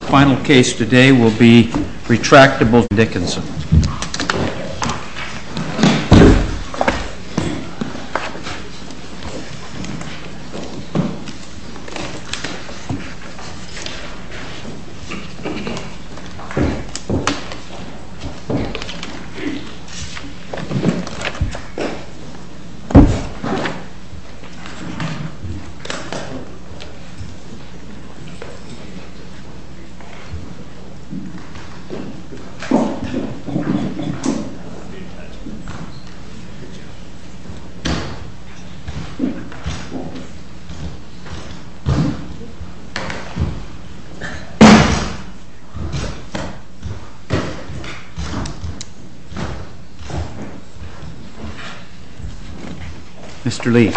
The final case today will be RETRACTABLE TECH v. BECTON DICKINSON Mr. Lee.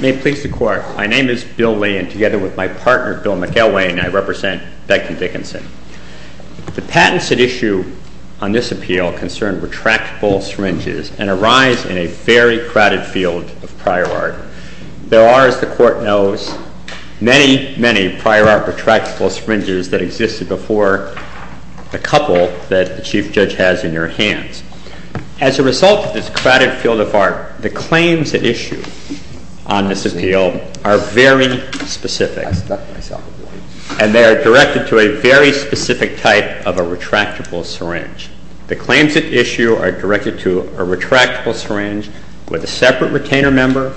May it please the Court. My name is Bill Lee and together with my partner, Bill McElwain, I represent Beckton Dickinson. The patents at issue on this appeal concern retractable syringes and arise in a very crowded field of prior art. There are, as the Court knows, many, many prior art retractable syringes that existed before the couple that the Chief Judge has in your hands. As a result of this crowded field of art, the claims at issue on this appeal are very specific and they are directed to a very specific type of a retractable syringe. The claims at issue are directed to a retractable syringe with a separate retainer member,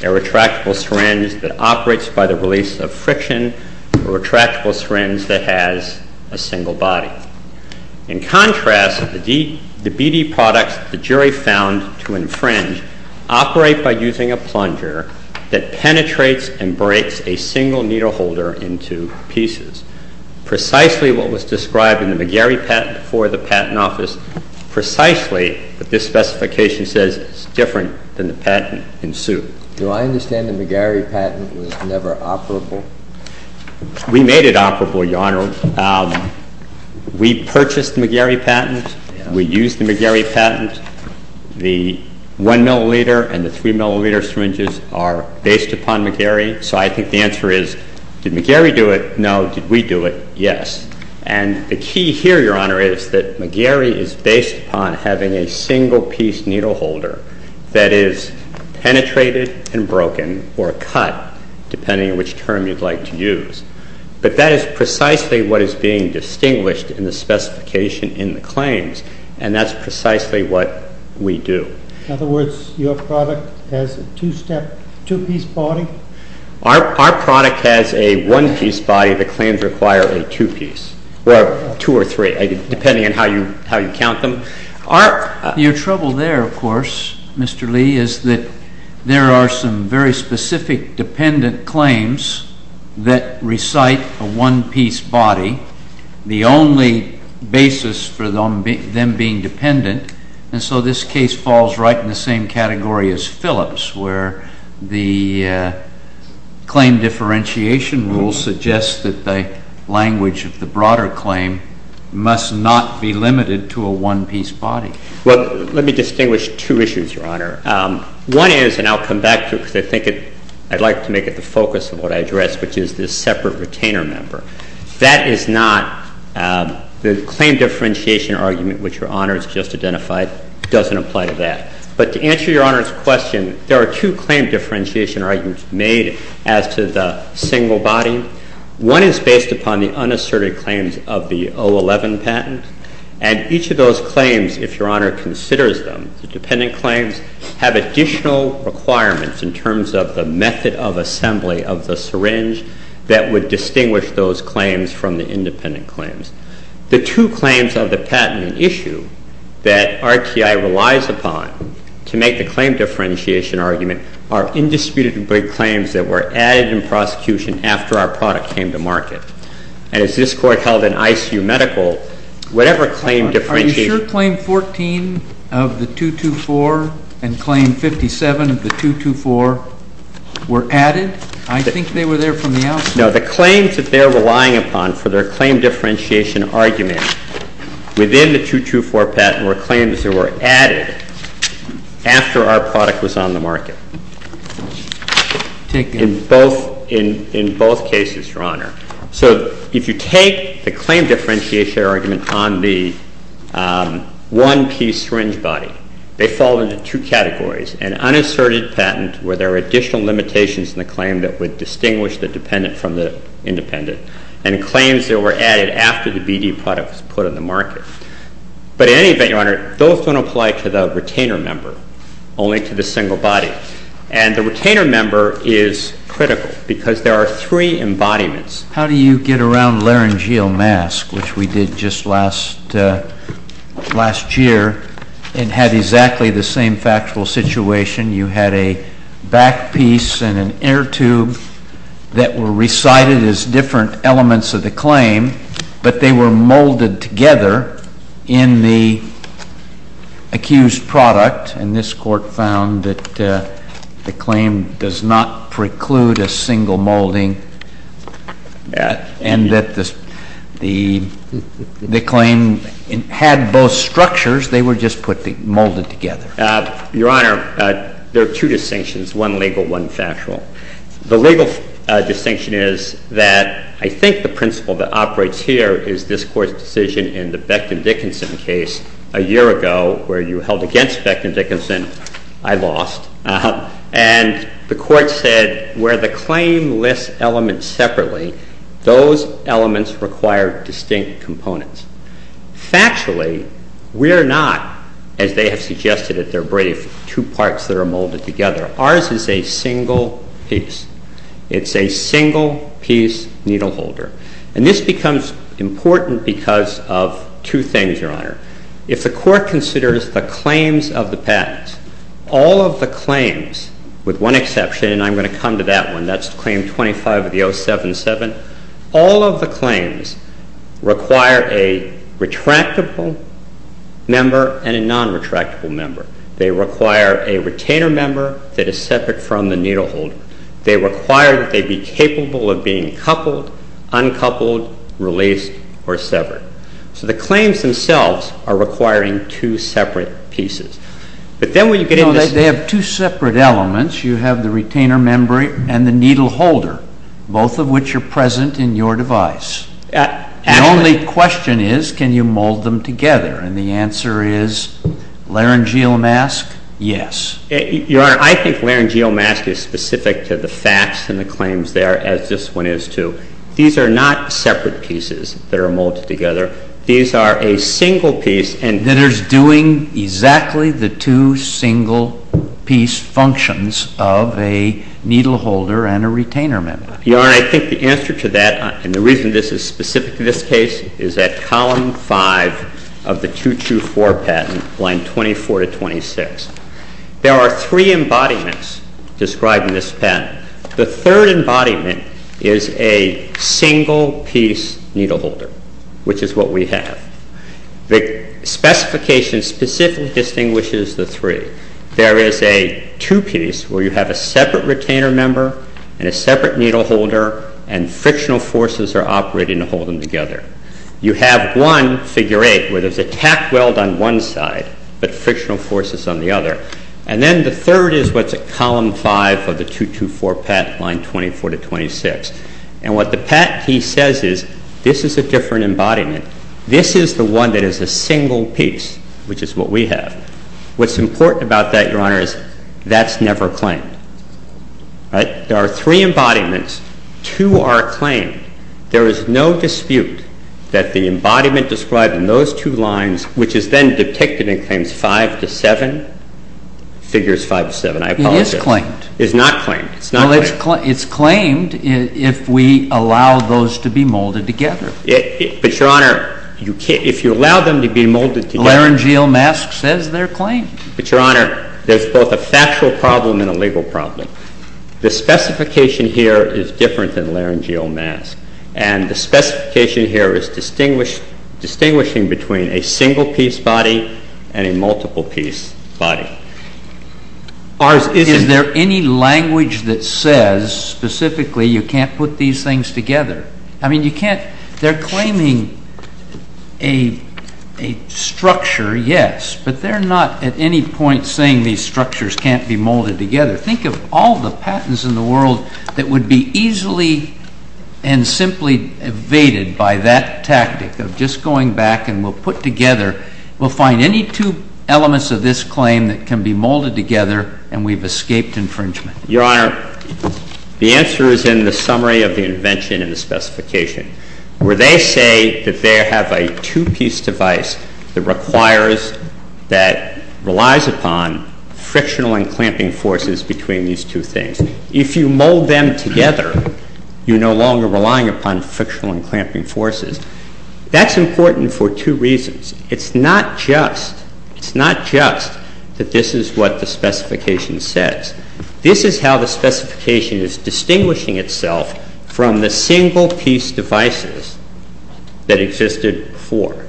a retractable syringe that operates by the release of friction, a retractable syringe that has a single body. In contrast, the BD products the jury found to infringe operate by using a plunger that penetrates and breaks a single needle holder into pieces. Precisely what was described in the McGarry patent for the Patent Office, precisely what this specification says is different than the patent in suit. Do I understand the McGarry patent was never operable? We made it operable, Your Honor. We purchased the McGarry patent. We used the McGarry patent. The 1 milliliter and the 3 milliliter syringes are based upon McGarry. So I think the answer is, did McGarry do it? No. Did we do it? Yes. And the key here, Your Honor, is that McGarry is based upon having a single piece needle holder that is penetrated and broken or cut, depending on which term you'd like to use. But that is precisely what is being distinguished in the specification in the claims, and that's precisely what we do. In other words, your product has a two-step, two-piece body? Our product has a one-piece body. The claims require a two-piece, or two or three, depending on how you count them. Your trouble there, of course, Mr. Lee, is that there are some very specific dependent claims that recite a one-piece body, the only basis for them being dependent. And so this case falls right in the same category as Phillips, where the claim differentiation rule suggests that the language of the broader claim must not be limited to a one-piece body. Well, let me distinguish two issues, Your Honor. One is, and I'll come back to it, because I think I'd like to make it the focus of what I addressed, which is this separate retainer member. That is not the claim differentiation argument which Your Honor has just identified. It doesn't apply to that. But to answer Your Honor's question, there are two claim differentiation arguments made as to the single body. One is based upon the unasserted claims of the 011 patent, and each of those claims, if Your Honor considers them, the dependent claims, have additional requirements in terms of the method of assembly of the syringe that would distinguish those claims from the independent claims. The two claims of the patent issue that RTI relies upon to make the claim differentiation argument are indisputably claims that were added in prosecution after our product came to market. And as this Court held in ICU Medical, whatever claim differentiation argument, it just says that there were added claims. And the claim 14 of the 224 and claim 57 of the 224 were added? I think they were there from the outset. No. The claims that they're relying upon for their claim differentiation argument within the 224 patent were claims that were added after our product was on the market. Take it. In both cases, Your Honor. So if you take the claim differentiation argument on the one-piece syringe body, they fall into two categories, an unasserted patent where there are additional limitations in the claim that would distinguish the dependent from the independent, and claims that were added after the BD product was put on the market. But in any event, Your Honor, those don't apply to the retainer member, only to the single body. And the retainer member is critical because there are three embodiments. How do you get around laryngeal mask, which we did just last year, and had exactly the same factual situation? You had a back piece and an inner tube that were recited as different elements of the claim, but they were molded together in the accused product. And this Court found that the claim does not preclude a single molding, and that the claim had both structures, they were just molded together. Your Honor, there are two distinctions, one legal, one factual. The legal distinction is that I think the principle that operates here is this Court's decision in the Becton-Dickinson case a year ago, where you held against Becton-Dickinson, I lost. And the Court said where the claim lists elements separately, those elements require distinct components. Factually, we're not, as they have suggested at their brief, two parts that are molded together. Ours is a single piece. It's a single piece needle holder. And this becomes important because of two things, Your Honor. If the Court considers the claims of the patent, all of the claims, with one exception, and I'm going to come to that one, that's claim 25 of the 077, all of the claims require a retractable member and a non-retractable member. They require a retainer member that is separate from the needle holder. They require that they be capable of being coupled, uncoupled, released, or severed. So the claims themselves are requiring two separate pieces. But then when you get into this. They have two separate elements. You have the retainer member and the needle holder, both of which are present in your device. The only question is, can you mold them together? And the answer is, laryngeal mask, yes. Your Honor, I think laryngeal mask is specific to the facts and the claims there, as this one is, too. These are not separate pieces that are molded together. These are a single piece. Then it's doing exactly the two single piece functions of a needle holder and a retainer member. Your Honor, I think the answer to that, and the reason this is specific to this case, is at column 5 of the 224 patent, line 24 to 26. There are three embodiments described in this patent. The third embodiment is a single piece needle holder, which is what we have. The specification specifically distinguishes the three. There is a two piece where you have a separate retainer member and a separate needle holder, and frictional forces are operating to hold them together. You have one, figure 8, where there's a tack weld on one side, but frictional forces on the other. And then the third is what's at column 5 of the 224 patent, line 24 to 26. And what the patentee says is, this is a different embodiment. This is the one that is a single piece, which is what we have. What's important about that, Your Honor, is that's never claimed. There are three embodiments. Two are claimed. There is no dispute that the embodiment described in those two lines, which is then depicted in claims 5 to 7, figures 5 to 7, I apologize. It is claimed. It is not claimed. It's not claimed. Well, it's claimed if we allow those to be molded together. But, Your Honor, if you allow them to be molded together. Laryngeal mask says they're claimed. But, Your Honor, there's both a factual problem and a legal problem. The specification here is different than laryngeal mask. And the specification here is distinguishing between a single-piece body and a multiple-piece body. Is there any language that says specifically you can't put these things together? I mean, you can't. They're claiming a structure, yes. But they're not at any point saying these structures can't be molded together. Think of all the patents in the world that would be easily and simply evaded by that tactic of just going back and we'll put together. We'll find any two elements of this claim that can be molded together and we've escaped infringement. Your Honor, the answer is in the summary of the invention and the specification, where they say that they have a two-piece device that requires, that relies upon frictional and clamping forces between these two things. If you mold them together, you're no longer relying upon frictional and clamping forces. That's important for two reasons. It's not just that this is what the specification says. This is how the specification is distinguishing itself from the single-piece devices that existed before.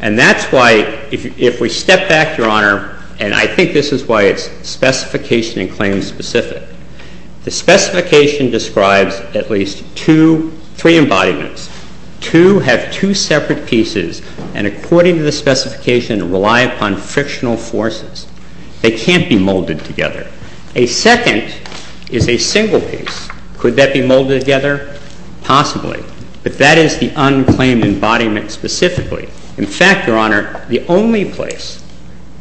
And that's why, if we step back, Your Honor, and I think this is why it's specification and claim specific. The specification describes at least two, three embodiments. Two have two separate pieces and, according to the specification, rely upon frictional forces. They can't be molded together. A second is a single piece. Could that be molded together? Possibly. But that is the unclaimed embodiment specifically. In fact, Your Honor, the only place,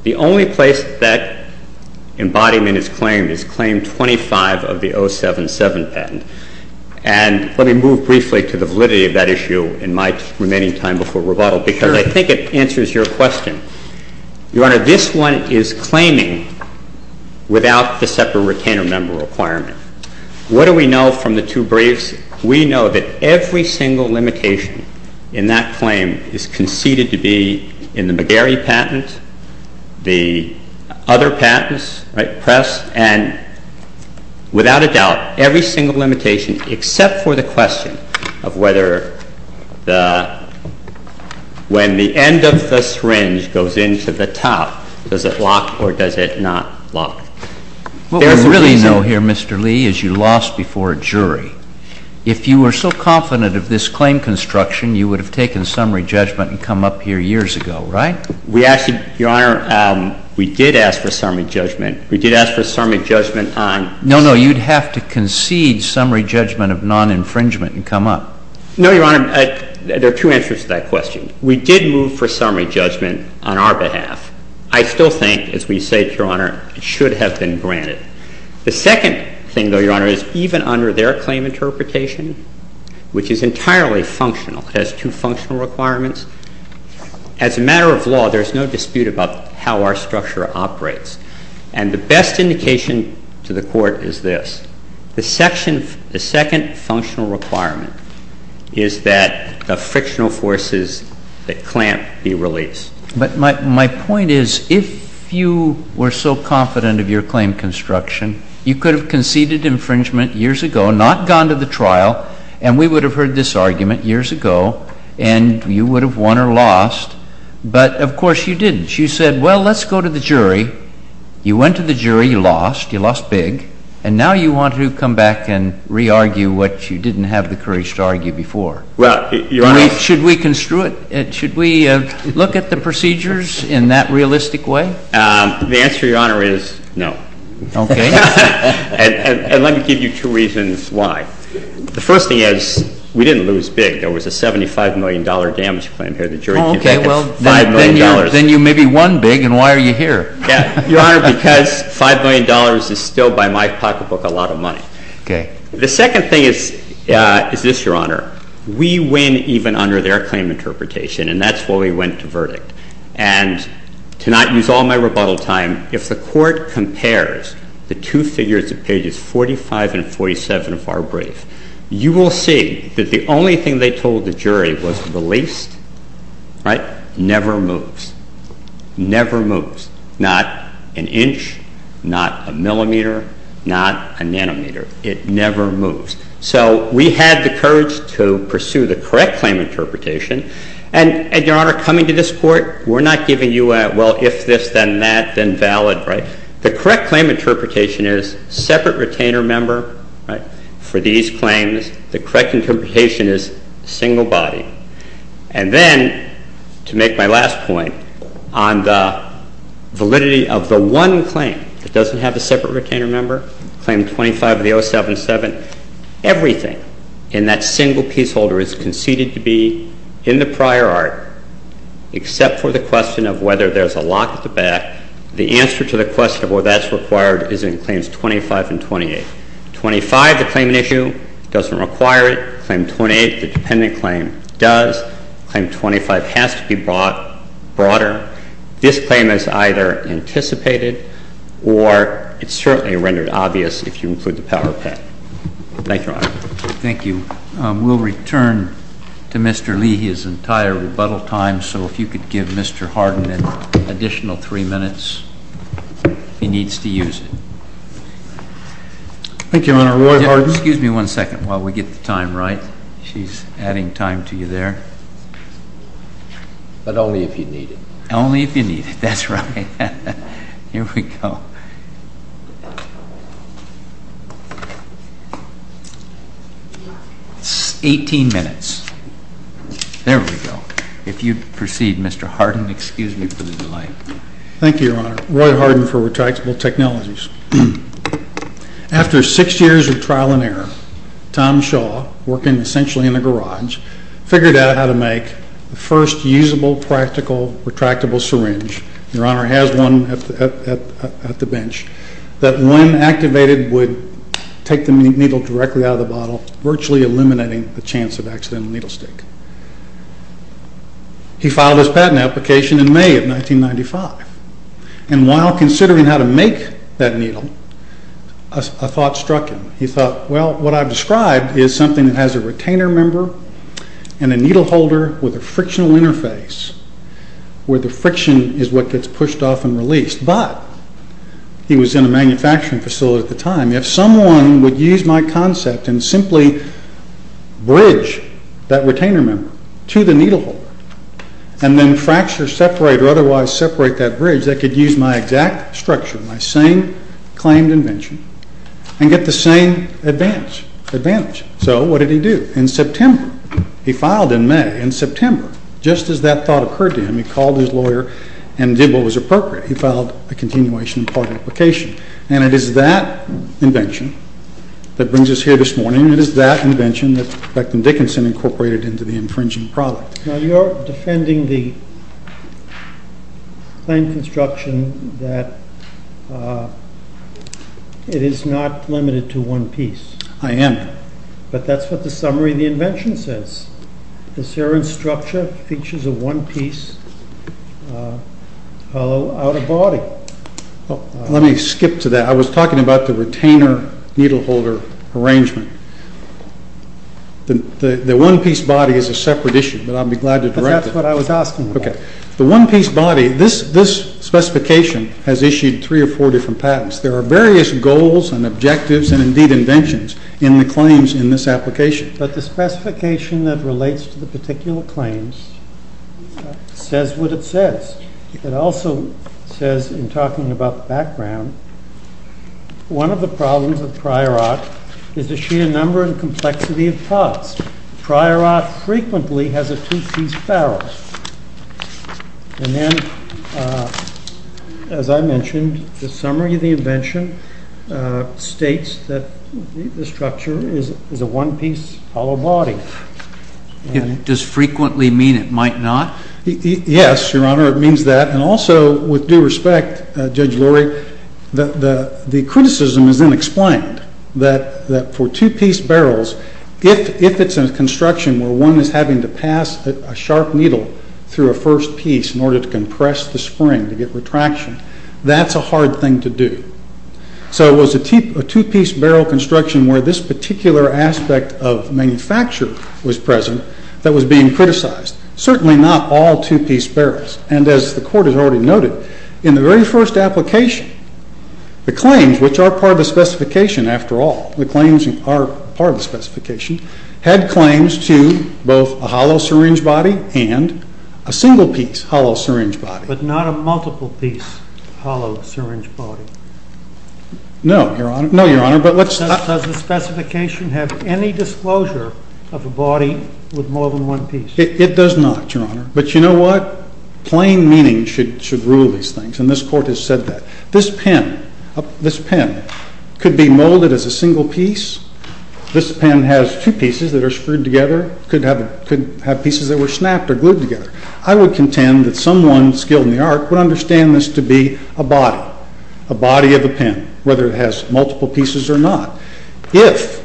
the only place that embodiment is claimed is claim 25 of the 077 patent. And let me move briefly to the validity of that issue in my remaining time before rebuttal because I think it answers your question. Your Honor, this one is claiming without the separate retainer member requirement. What do we know from the two briefs? We know that every single limitation in that claim is conceded to be in the McGarry patent, the other patents, right, press, and without a doubt, every single limitation except for the question of whether the, when the end of the syringe goes into the top, does it lock or does it not lock? What we really know here, Mr. Lee, is you lost before a jury. If you were so confident of this claim construction, you would have taken summary judgment and come up here years ago, right? We actually, Your Honor, we did ask for summary judgment. We did ask for summary judgment on No, no. You'd have to concede summary judgment of non-infringement and come up. No, Your Honor. There are two answers to that question. We did move for summary judgment on our behalf. I still think, as we say to Your Honor, it should have been granted. The second thing, though, Your Honor, is even under their claim interpretation, which is entirely functional, has two functional requirements, as a matter of law, there's no dispute about how our structure operates. And the best indication to the Court is this. The second functional requirement is that the frictional forces that clamp be released. But my point is, if you were so confident of your claim construction, you could have conceded infringement years ago, not gone to the trial, and we would have heard this argument years ago, and you would have won or lost. But, of course, you didn't. You said, well, let's go to the jury. You went to the jury. You lost. You lost big. And now you want to come back and re-argue what you didn't have the courage to argue before. Should we construe it? Should we look at the procedures in that realistic way? The answer, Your Honor, is no. Okay. And let me give you two reasons why. The first thing is, we didn't lose big. There was a $75 million damage claim here. Oh, okay. Well, then you maybe won big, and why are you here? Your Honor, because $5 million is still, by my pocketbook, a lot of money. Okay. The second thing is this, Your Honor. We win even under their claim interpretation, and that's why we went to verdict. And to not use all my rebuttal time, if the Court compares the two figures at pages 45 and 47 of our brief, you will see that the only thing they told the jury was released, right? Never moves. Never moves. Not an inch, not a millimeter, not a nanometer. It never moves. So we had the courage to pursue the correct claim interpretation, and, Your Honor, coming to this Court, we're not giving you a, well, if this, then that, then valid, right? The correct claim interpretation is separate retainer member, right, for these claims. The correct interpretation is single body. And then, to make my last point, on the validity of the one claim that I'm going to make, I'm going to say that everything in that single pieceholder is conceded to be in the prior art, except for the question of whether there's a lock at the back. The answer to the question of whether that's required is in Claims 25 and 28. 25, the claim in issue, doesn't require it. Claim 28, the dependent claim does. Claim 25 has to be brought broader. This claim is either anticipated or it's certainly rendered obvious if you include the power of pen. Thank you, Your Honor. Thank you. We'll return to Mr. Leahy's entire rebuttal time, so if you could give Mr. Hardin an additional three minutes, he needs to use it. Thank you, Your Honor. Roy Hardin. Excuse me one second while we get the time right. She's adding time to you there. But only if you need it. Only if you need it. That's right. Here we go. Eighteen minutes. There we go. If you'd proceed, Mr. Hardin, excuse me for the delay. Thank you, Your Honor. Roy Hardin for Retractable Technologies. After six years of trial and error, Tom Shaw, working essentially in a garage, figured out how to make the first usable, practical, retractable syringe, Your Honor has one at the bench, that when activated would take the needle directly out of the bottle, virtually eliminating the chance of accidental needle stick. He filed his patent application in May of 1995. And while considering how to make that needle, a thought struck him. He thought, well, what I've described is something that has a retainer member and a needle holder with a frictional interface where the friction is what gets pushed off and released. But he was in a manufacturing facility at the time. If someone would use my concept and simply bridge that retainer member to the needle holder and then fracture, separate, or otherwise separate that bridge, I could use my exact structure, my same claimed invention, and get the same advantage. So what did he do? In September, he filed in May. In September, just as that thought occurred to him, he called his lawyer and did what was appropriate. He filed a continuation patent application. And it is that invention that brings us here this morning. It is that invention that Beckman Dickinson incorporated into the infringing product. Now, you're defending the plain construction that it is not limited to one piece. I am. But that's what the summary of the invention says. The Ceron structure features a one-piece hollow outer body. Let me skip to that. I was talking about the retainer-needle holder arrangement. The one-piece body is a separate issue, but I'll be glad to direct it. But that's what I was asking about. Okay. The one-piece body, this specification has issued three or four different patents. There are various goals and objectives and, indeed, inventions in the claims in this application. But the specification that relates to the particular claims says what it says. It also says, in talking about the background, one of the problems with the Ceron structure is that it has such a number and complexity of parts. Prior art frequently has a two-piece barrel. And then, as I mentioned, the summary of the invention states that the structure is a one-piece hollow body. Does frequently mean it might not? Yes, Your Honor, it means that. And also, with due respect, Judge Lurie, the criticism is then explained that for two-piece barrels, if it's a construction where one is having to pass a sharp needle through a first piece in order to compress the spring to get retraction, that's a hard thing to do. So it was a two-piece barrel construction where this particular aspect of manufacture was present that was being criticized. Certainly not all two-piece barrels. And, as the Court has already noted, in the very first application, the claims, which are part of the specification, after all, the claims are part of the specification, had claims to both a hollow syringe body and a single-piece hollow syringe body. But not a multiple-piece hollow syringe body? No, Your Honor. Does the specification have any disclosure of a body with more than one piece? It does not, Your Honor. But you know what? Plain meaning should rule these things, and this Court has said that. This pen could be molded as a single piece. This pen has two pieces that are screwed together, could have pieces that were snapped or glued together. I would contend that someone skilled in the art would understand this to be a body, a body of a pen, whether it has multiple pieces or not. If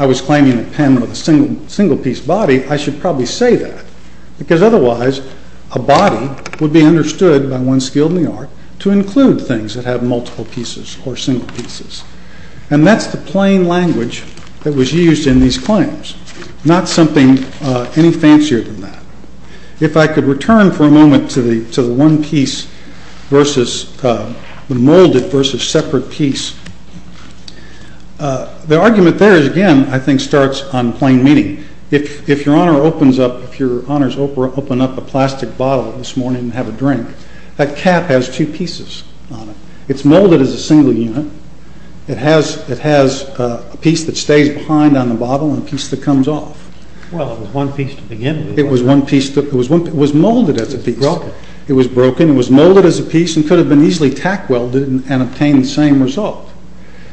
I was claiming a pen with a single-piece body, I should probably say that, because otherwise a body would be understood by one skilled in the art to include things that have multiple pieces or single pieces. And that's the plain language that was used in these claims, not something any fancier than that. If I could return for a moment to the one-piece versus the molded versus separate piece, the argument there is, again, I think starts on plain meaning. If Your Honor opens up a plastic bottle this morning and have a drink, that cap has two pieces on it. It's molded as a single unit. It has a piece that stays behind on the bottle and a piece that comes off. Well, it was one piece to begin with. It was molded as a piece. It was broken. It was broken. It was molded as a piece and could have been easily tack-welded and obtained the same result.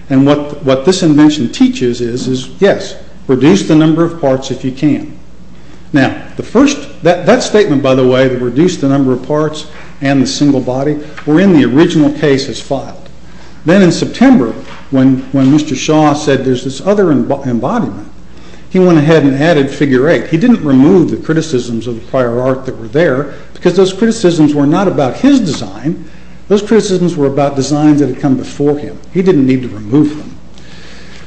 And what this invention teaches is, yes, reduce the number of parts if you can. Now, that statement, by the way, to reduce the number of parts and the single body, were in the original case as filed. Then in September, when Mr. Shaw said there's this other embodiment, he went ahead and added figure eight. He didn't remove the criticisms of the prior art that were there because those criticisms were not about his design. Those criticisms were about designs that had come before him. He didn't need to remove them.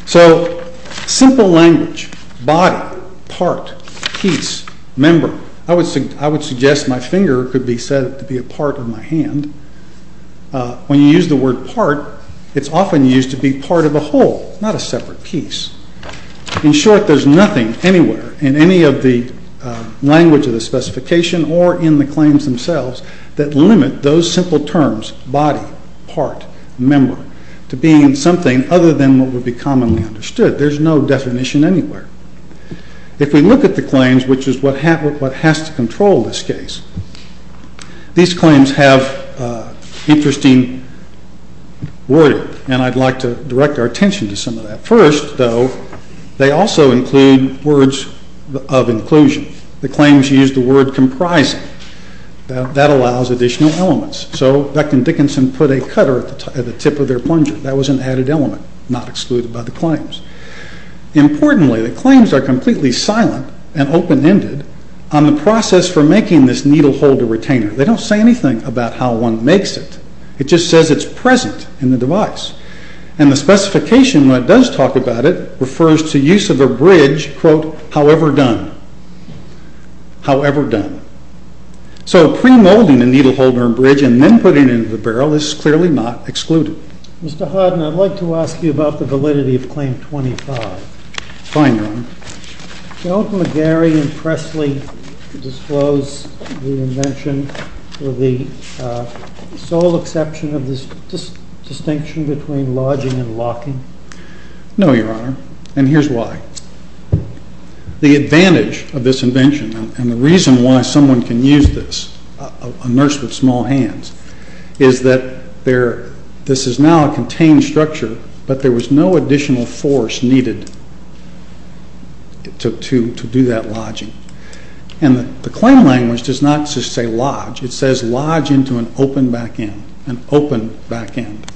So simple language, body, part, piece, member. I would suggest my finger could be said to be a part of my hand. When you use the word part, it's often used to be part of a whole, not a separate piece. In short, there's nothing anywhere in any of the language of the original terms, body, part, member, to being something other than what would be commonly understood. There's no definition anywhere. If we look at the claims, which is what has to control this case, these claims have interesting wording, and I'd like to direct our attention to some of that. First, though, they also include words of inclusion. The claims use the word comprising. That allows additional elements. So Beck and Dickinson put a cutter at the tip of their plunger. That was an added element, not excluded by the claims. Importantly, the claims are completely silent and open-ended on the process for making this needle holder retainer. They don't say anything about how one makes it. It just says it's present in the device. And the specification, when it does talk about it, refers to use of a bridge, quote, however done, however done. So premolding a needle holder bridge and then putting it into the barrel is clearly not excluded. Mr. Harden, I'd like to ask you about the validity of Claim 25. Fine, Your Honor. Don't McGarry and Presley disclose the invention or the sole exception of this distinction between lodging and locking? No, Your Honor, and here's why. The advantage of this invention and the reason why someone can use this, a nurse with small hands, is that this is now a contained structure, but there was no additional force needed to do that lodging. And the claim language does not just say lodge. It says lodge into an open back end, an open back end.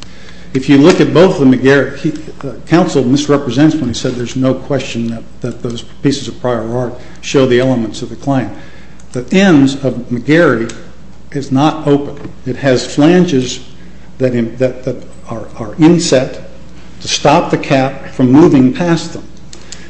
If you look at both of them, the counsel misrepresents when he said there's no question that those pieces of prior art show the elements of the claim. The ends of McGarry is not open. It has flanges that are inset to stop the cap from moving past them.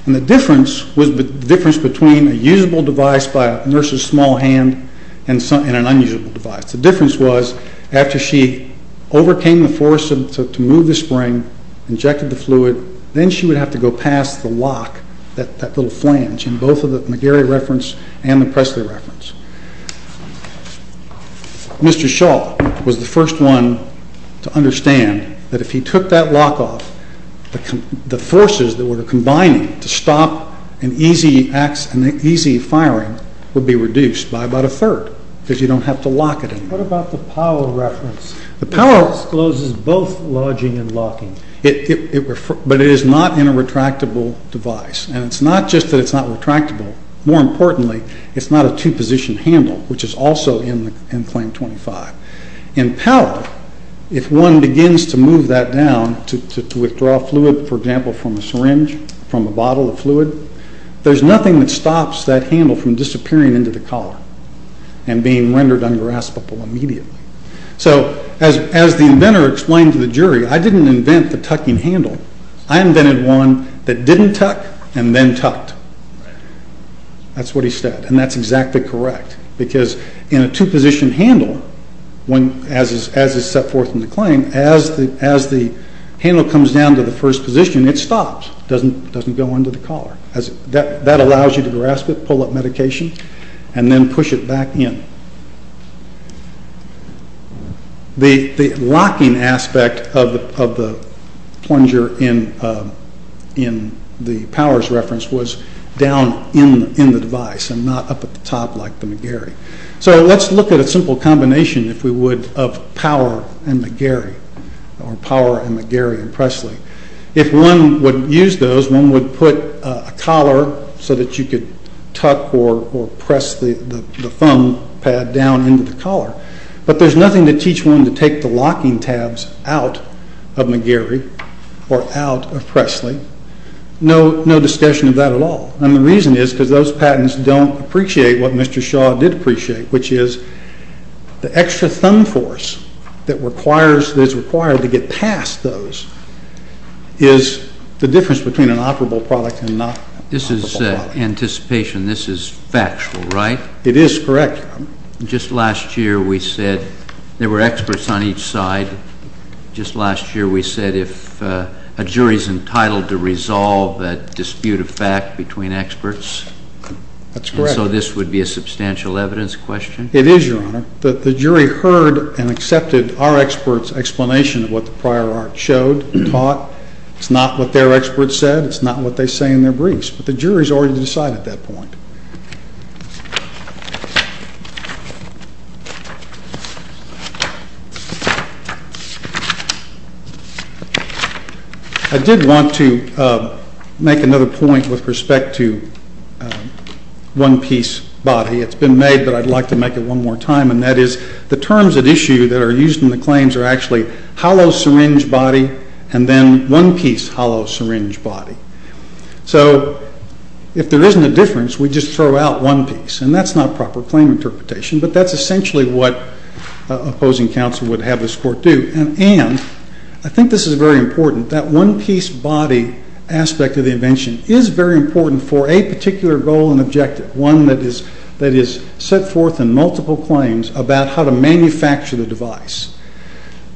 And the difference was the difference between a usable device by a nurse's small hand and an unusable device. The difference was after she overcame the force to move the spring, injected the fluid, then she would have to go past the lock, that little flange in both of the McGarry reference and the Presley reference. Mr. Shaw was the first one to understand that if he took that lock off, the forces that were combining to stop an easy firing would be reduced by about a third because you don't have to lock it in. What about the Powell reference? The Powell discloses both lodging and locking. But it is not in a retractable device. And it's not just that it's not retractable. More importantly, it's not a two-position handle, which is also in Claim 25. In Powell, if one begins to move that down to withdraw fluid, for example, from a syringe, from a bottle of fluid, there's nothing that stops that handle from disappearing into the collar and being rendered ungraspable immediately. So as the inventor explained to the jury, I didn't invent the tucking handle. I invented one that didn't tuck and then tucked. That's what he said, and that's exactly correct. Because in a two-position handle, as is set forth in the claim, as the handle comes down to the first position, it stops. It doesn't go under the collar. That allows you to grasp it, pull up medication, and then push it back in. The locking aspect of the plunger in the Powers reference was down in the device and not up at the top like the McGarry. So let's look at a simple combination, if we would, of Power and McGarry, or Power and McGarry and Presley. If one would use those, one would put a collar so that you could tuck or press the thumb pad down into the collar. But there's nothing to teach one to take the locking tabs out of McGarry or out of Presley. No discussion of that at all. And the reason is because those patents don't appreciate what Mr. Shaw did appreciate, which is the extra thumb force that is required to get past those is the difference between an operable product and not an operable product. This is anticipation. This is factual, right? It is correct. Just last year we said there were experts on each side. Just last year we said if a jury is entitled to resolve a dispute of fact between experts. That's correct. So this would be a substantial evidence question? It is, Your Honor. The jury heard and accepted our experts' explanation of what the prior art showed and taught. It's not what their experts said. It's not what they say in their briefs. But the jury has already decided that point. I did want to make another point with respect to one-piece body. It's been made, but I'd like to make it one more time, and that is the terms at issue that are used in the claims are actually hollow syringe body and then one-piece hollow syringe body. So if there isn't a difference, we just throw out one piece, and that's not proper claim interpretation, but that's essentially what opposing counsel would have this court do. And I think this is very important, that one-piece body aspect of the invention is very important for a particular goal and objective, one that is set forth in multiple claims about how to manufacture the device.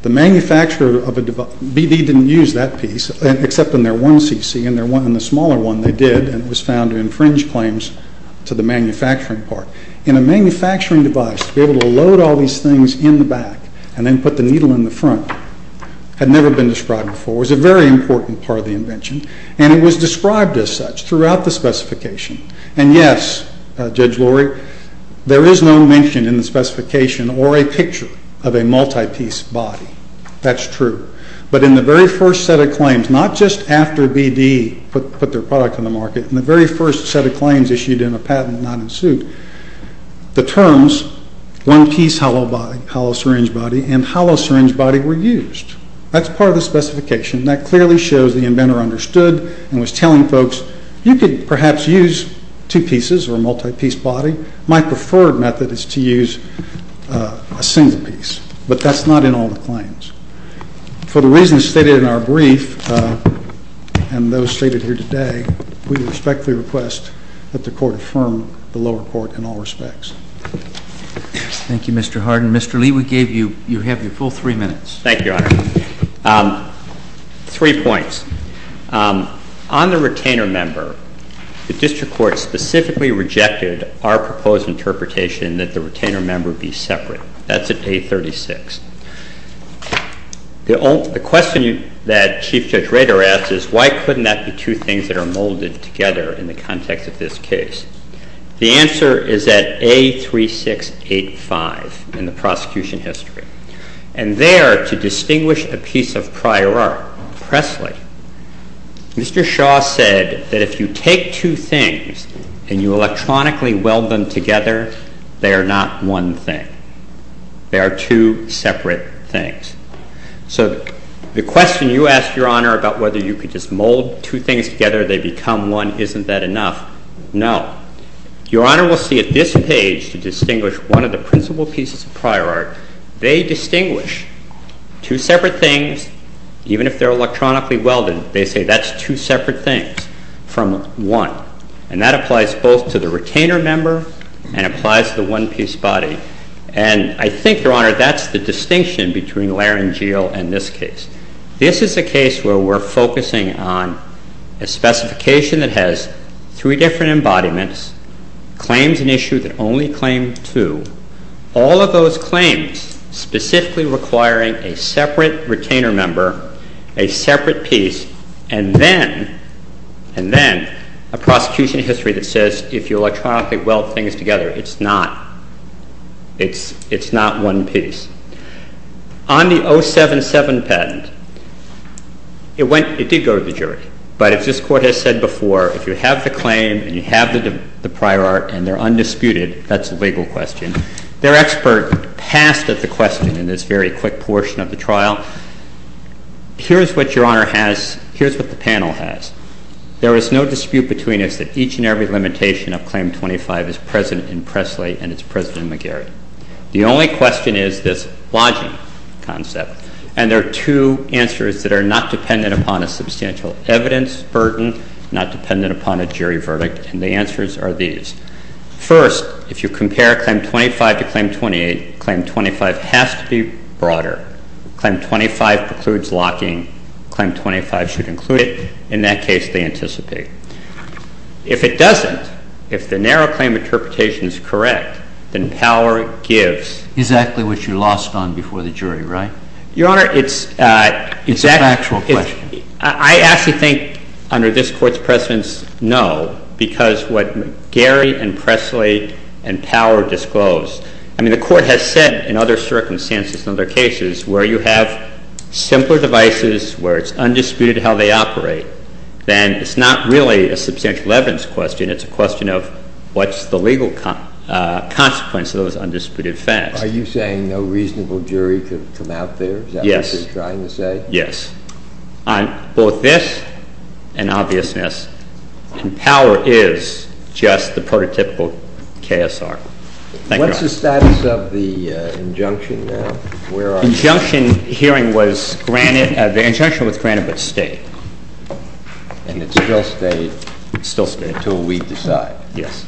BD didn't use that piece, except in their one CC. In the smaller one, they did, and it was found to infringe claims to the manufacturing part. In a manufacturing device, to be able to load all these things in the back and then put the needle in the front had never been described before. It was a very important part of the invention, and it was described as such throughout the specification. And yes, Judge Lori, there is no mention in the specification or a picture of a multi-piece body. That's true. But in the very first set of claims, not just after BD put their product on the market, in the very first set of claims issued in a patent not in suit, the terms one-piece hollow syringe body and hollow syringe body were used. That's part of the specification. That clearly shows the inventor understood and was telling folks you could perhaps use two pieces or a multi-piece body. My preferred method is to use a single piece. But that's not in all the claims. For the reasons stated in our brief and those stated here today, we respectfully request that the Court affirm the lower court in all respects. Thank you, Mr. Hardin. Mr. Lee, we have your full three minutes. Thank you, Your Honor. Three points. On the retainer member, the District Court specifically rejected our proposed interpretation that the retainer member be separate. That's at A36. The question that Chief Judge Rader asked is, why couldn't that be two things that are molded together in the context of this case? The answer is at A3685 in the prosecution history. And there, to distinguish a piece of prior art, Presley, Mr. Shaw said that if you take two things and you electronically weld them together, they are not one thing. They are two separate things. So the question you asked, Your Honor, about whether you could just mold two things together, they become one, isn't that enough? No. Your Honor will see at this page, to distinguish one of the principal pieces of prior art, they distinguish two separate things, even if they're electronically welded, they say that's two separate things from one. And that applies both to the retainer member and applies to the one-piece body. And I think, Your Honor, that's the distinction between Laranjeal and this case. This is a case where we're focusing on a specification that has three different embodiments, claims in issue that only claim two. All of those claims specifically requiring a separate retainer member, a separate piece, and then a prosecution history that says if you electronically weld things together, it's not one piece. On the 077 patent, it did go to the jury, but as this Court has said before, if you have the claim and you have the prior art and they're undisputed, that's a legal question. Their expert passed at the question in this very quick portion of the trial. Here's what Your Honor has, here's what the panel has. There is no dispute between us that each and every limitation of Claim 25 is present in Presley and it's present in McGarry. The only question is this lodging concept. And there are two answers that are not dependent upon a substantial evidence burden, not dependent upon a jury verdict, and the answers are these. First, if you compare Claim 25 to Claim 28, Claim 25 has to be broader. Claim 25 precludes locking. Claim 25 should include it. In that case, they anticipate. If it doesn't, if the narrow claim interpretation is correct, then power gives. Exactly what you lost on before the jury, right? Your Honor, it's a factual question. I actually think under this Court's precedence, no, because what McGarry and Presley and Power disclosed, I mean the Court has said in other circumstances and other cases where you have simpler devices, where it's undisputed how they operate, then it's not really a substantial evidence question. It's a question of what's the legal consequence of those undisputed facts. Are you saying no reasonable jury could come out there? Yes. Is that what you're trying to say? Yes. On both this and obviousness, Power is just the prototypical KSR. Thank you, Your Honor. What's the status of the injunction now? The injunction hearing was granted. The injunction was granted but stayed. And it still stayed? It still stayed. Until we decide. Yes.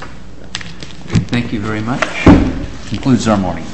Thank you very much. That concludes our morning.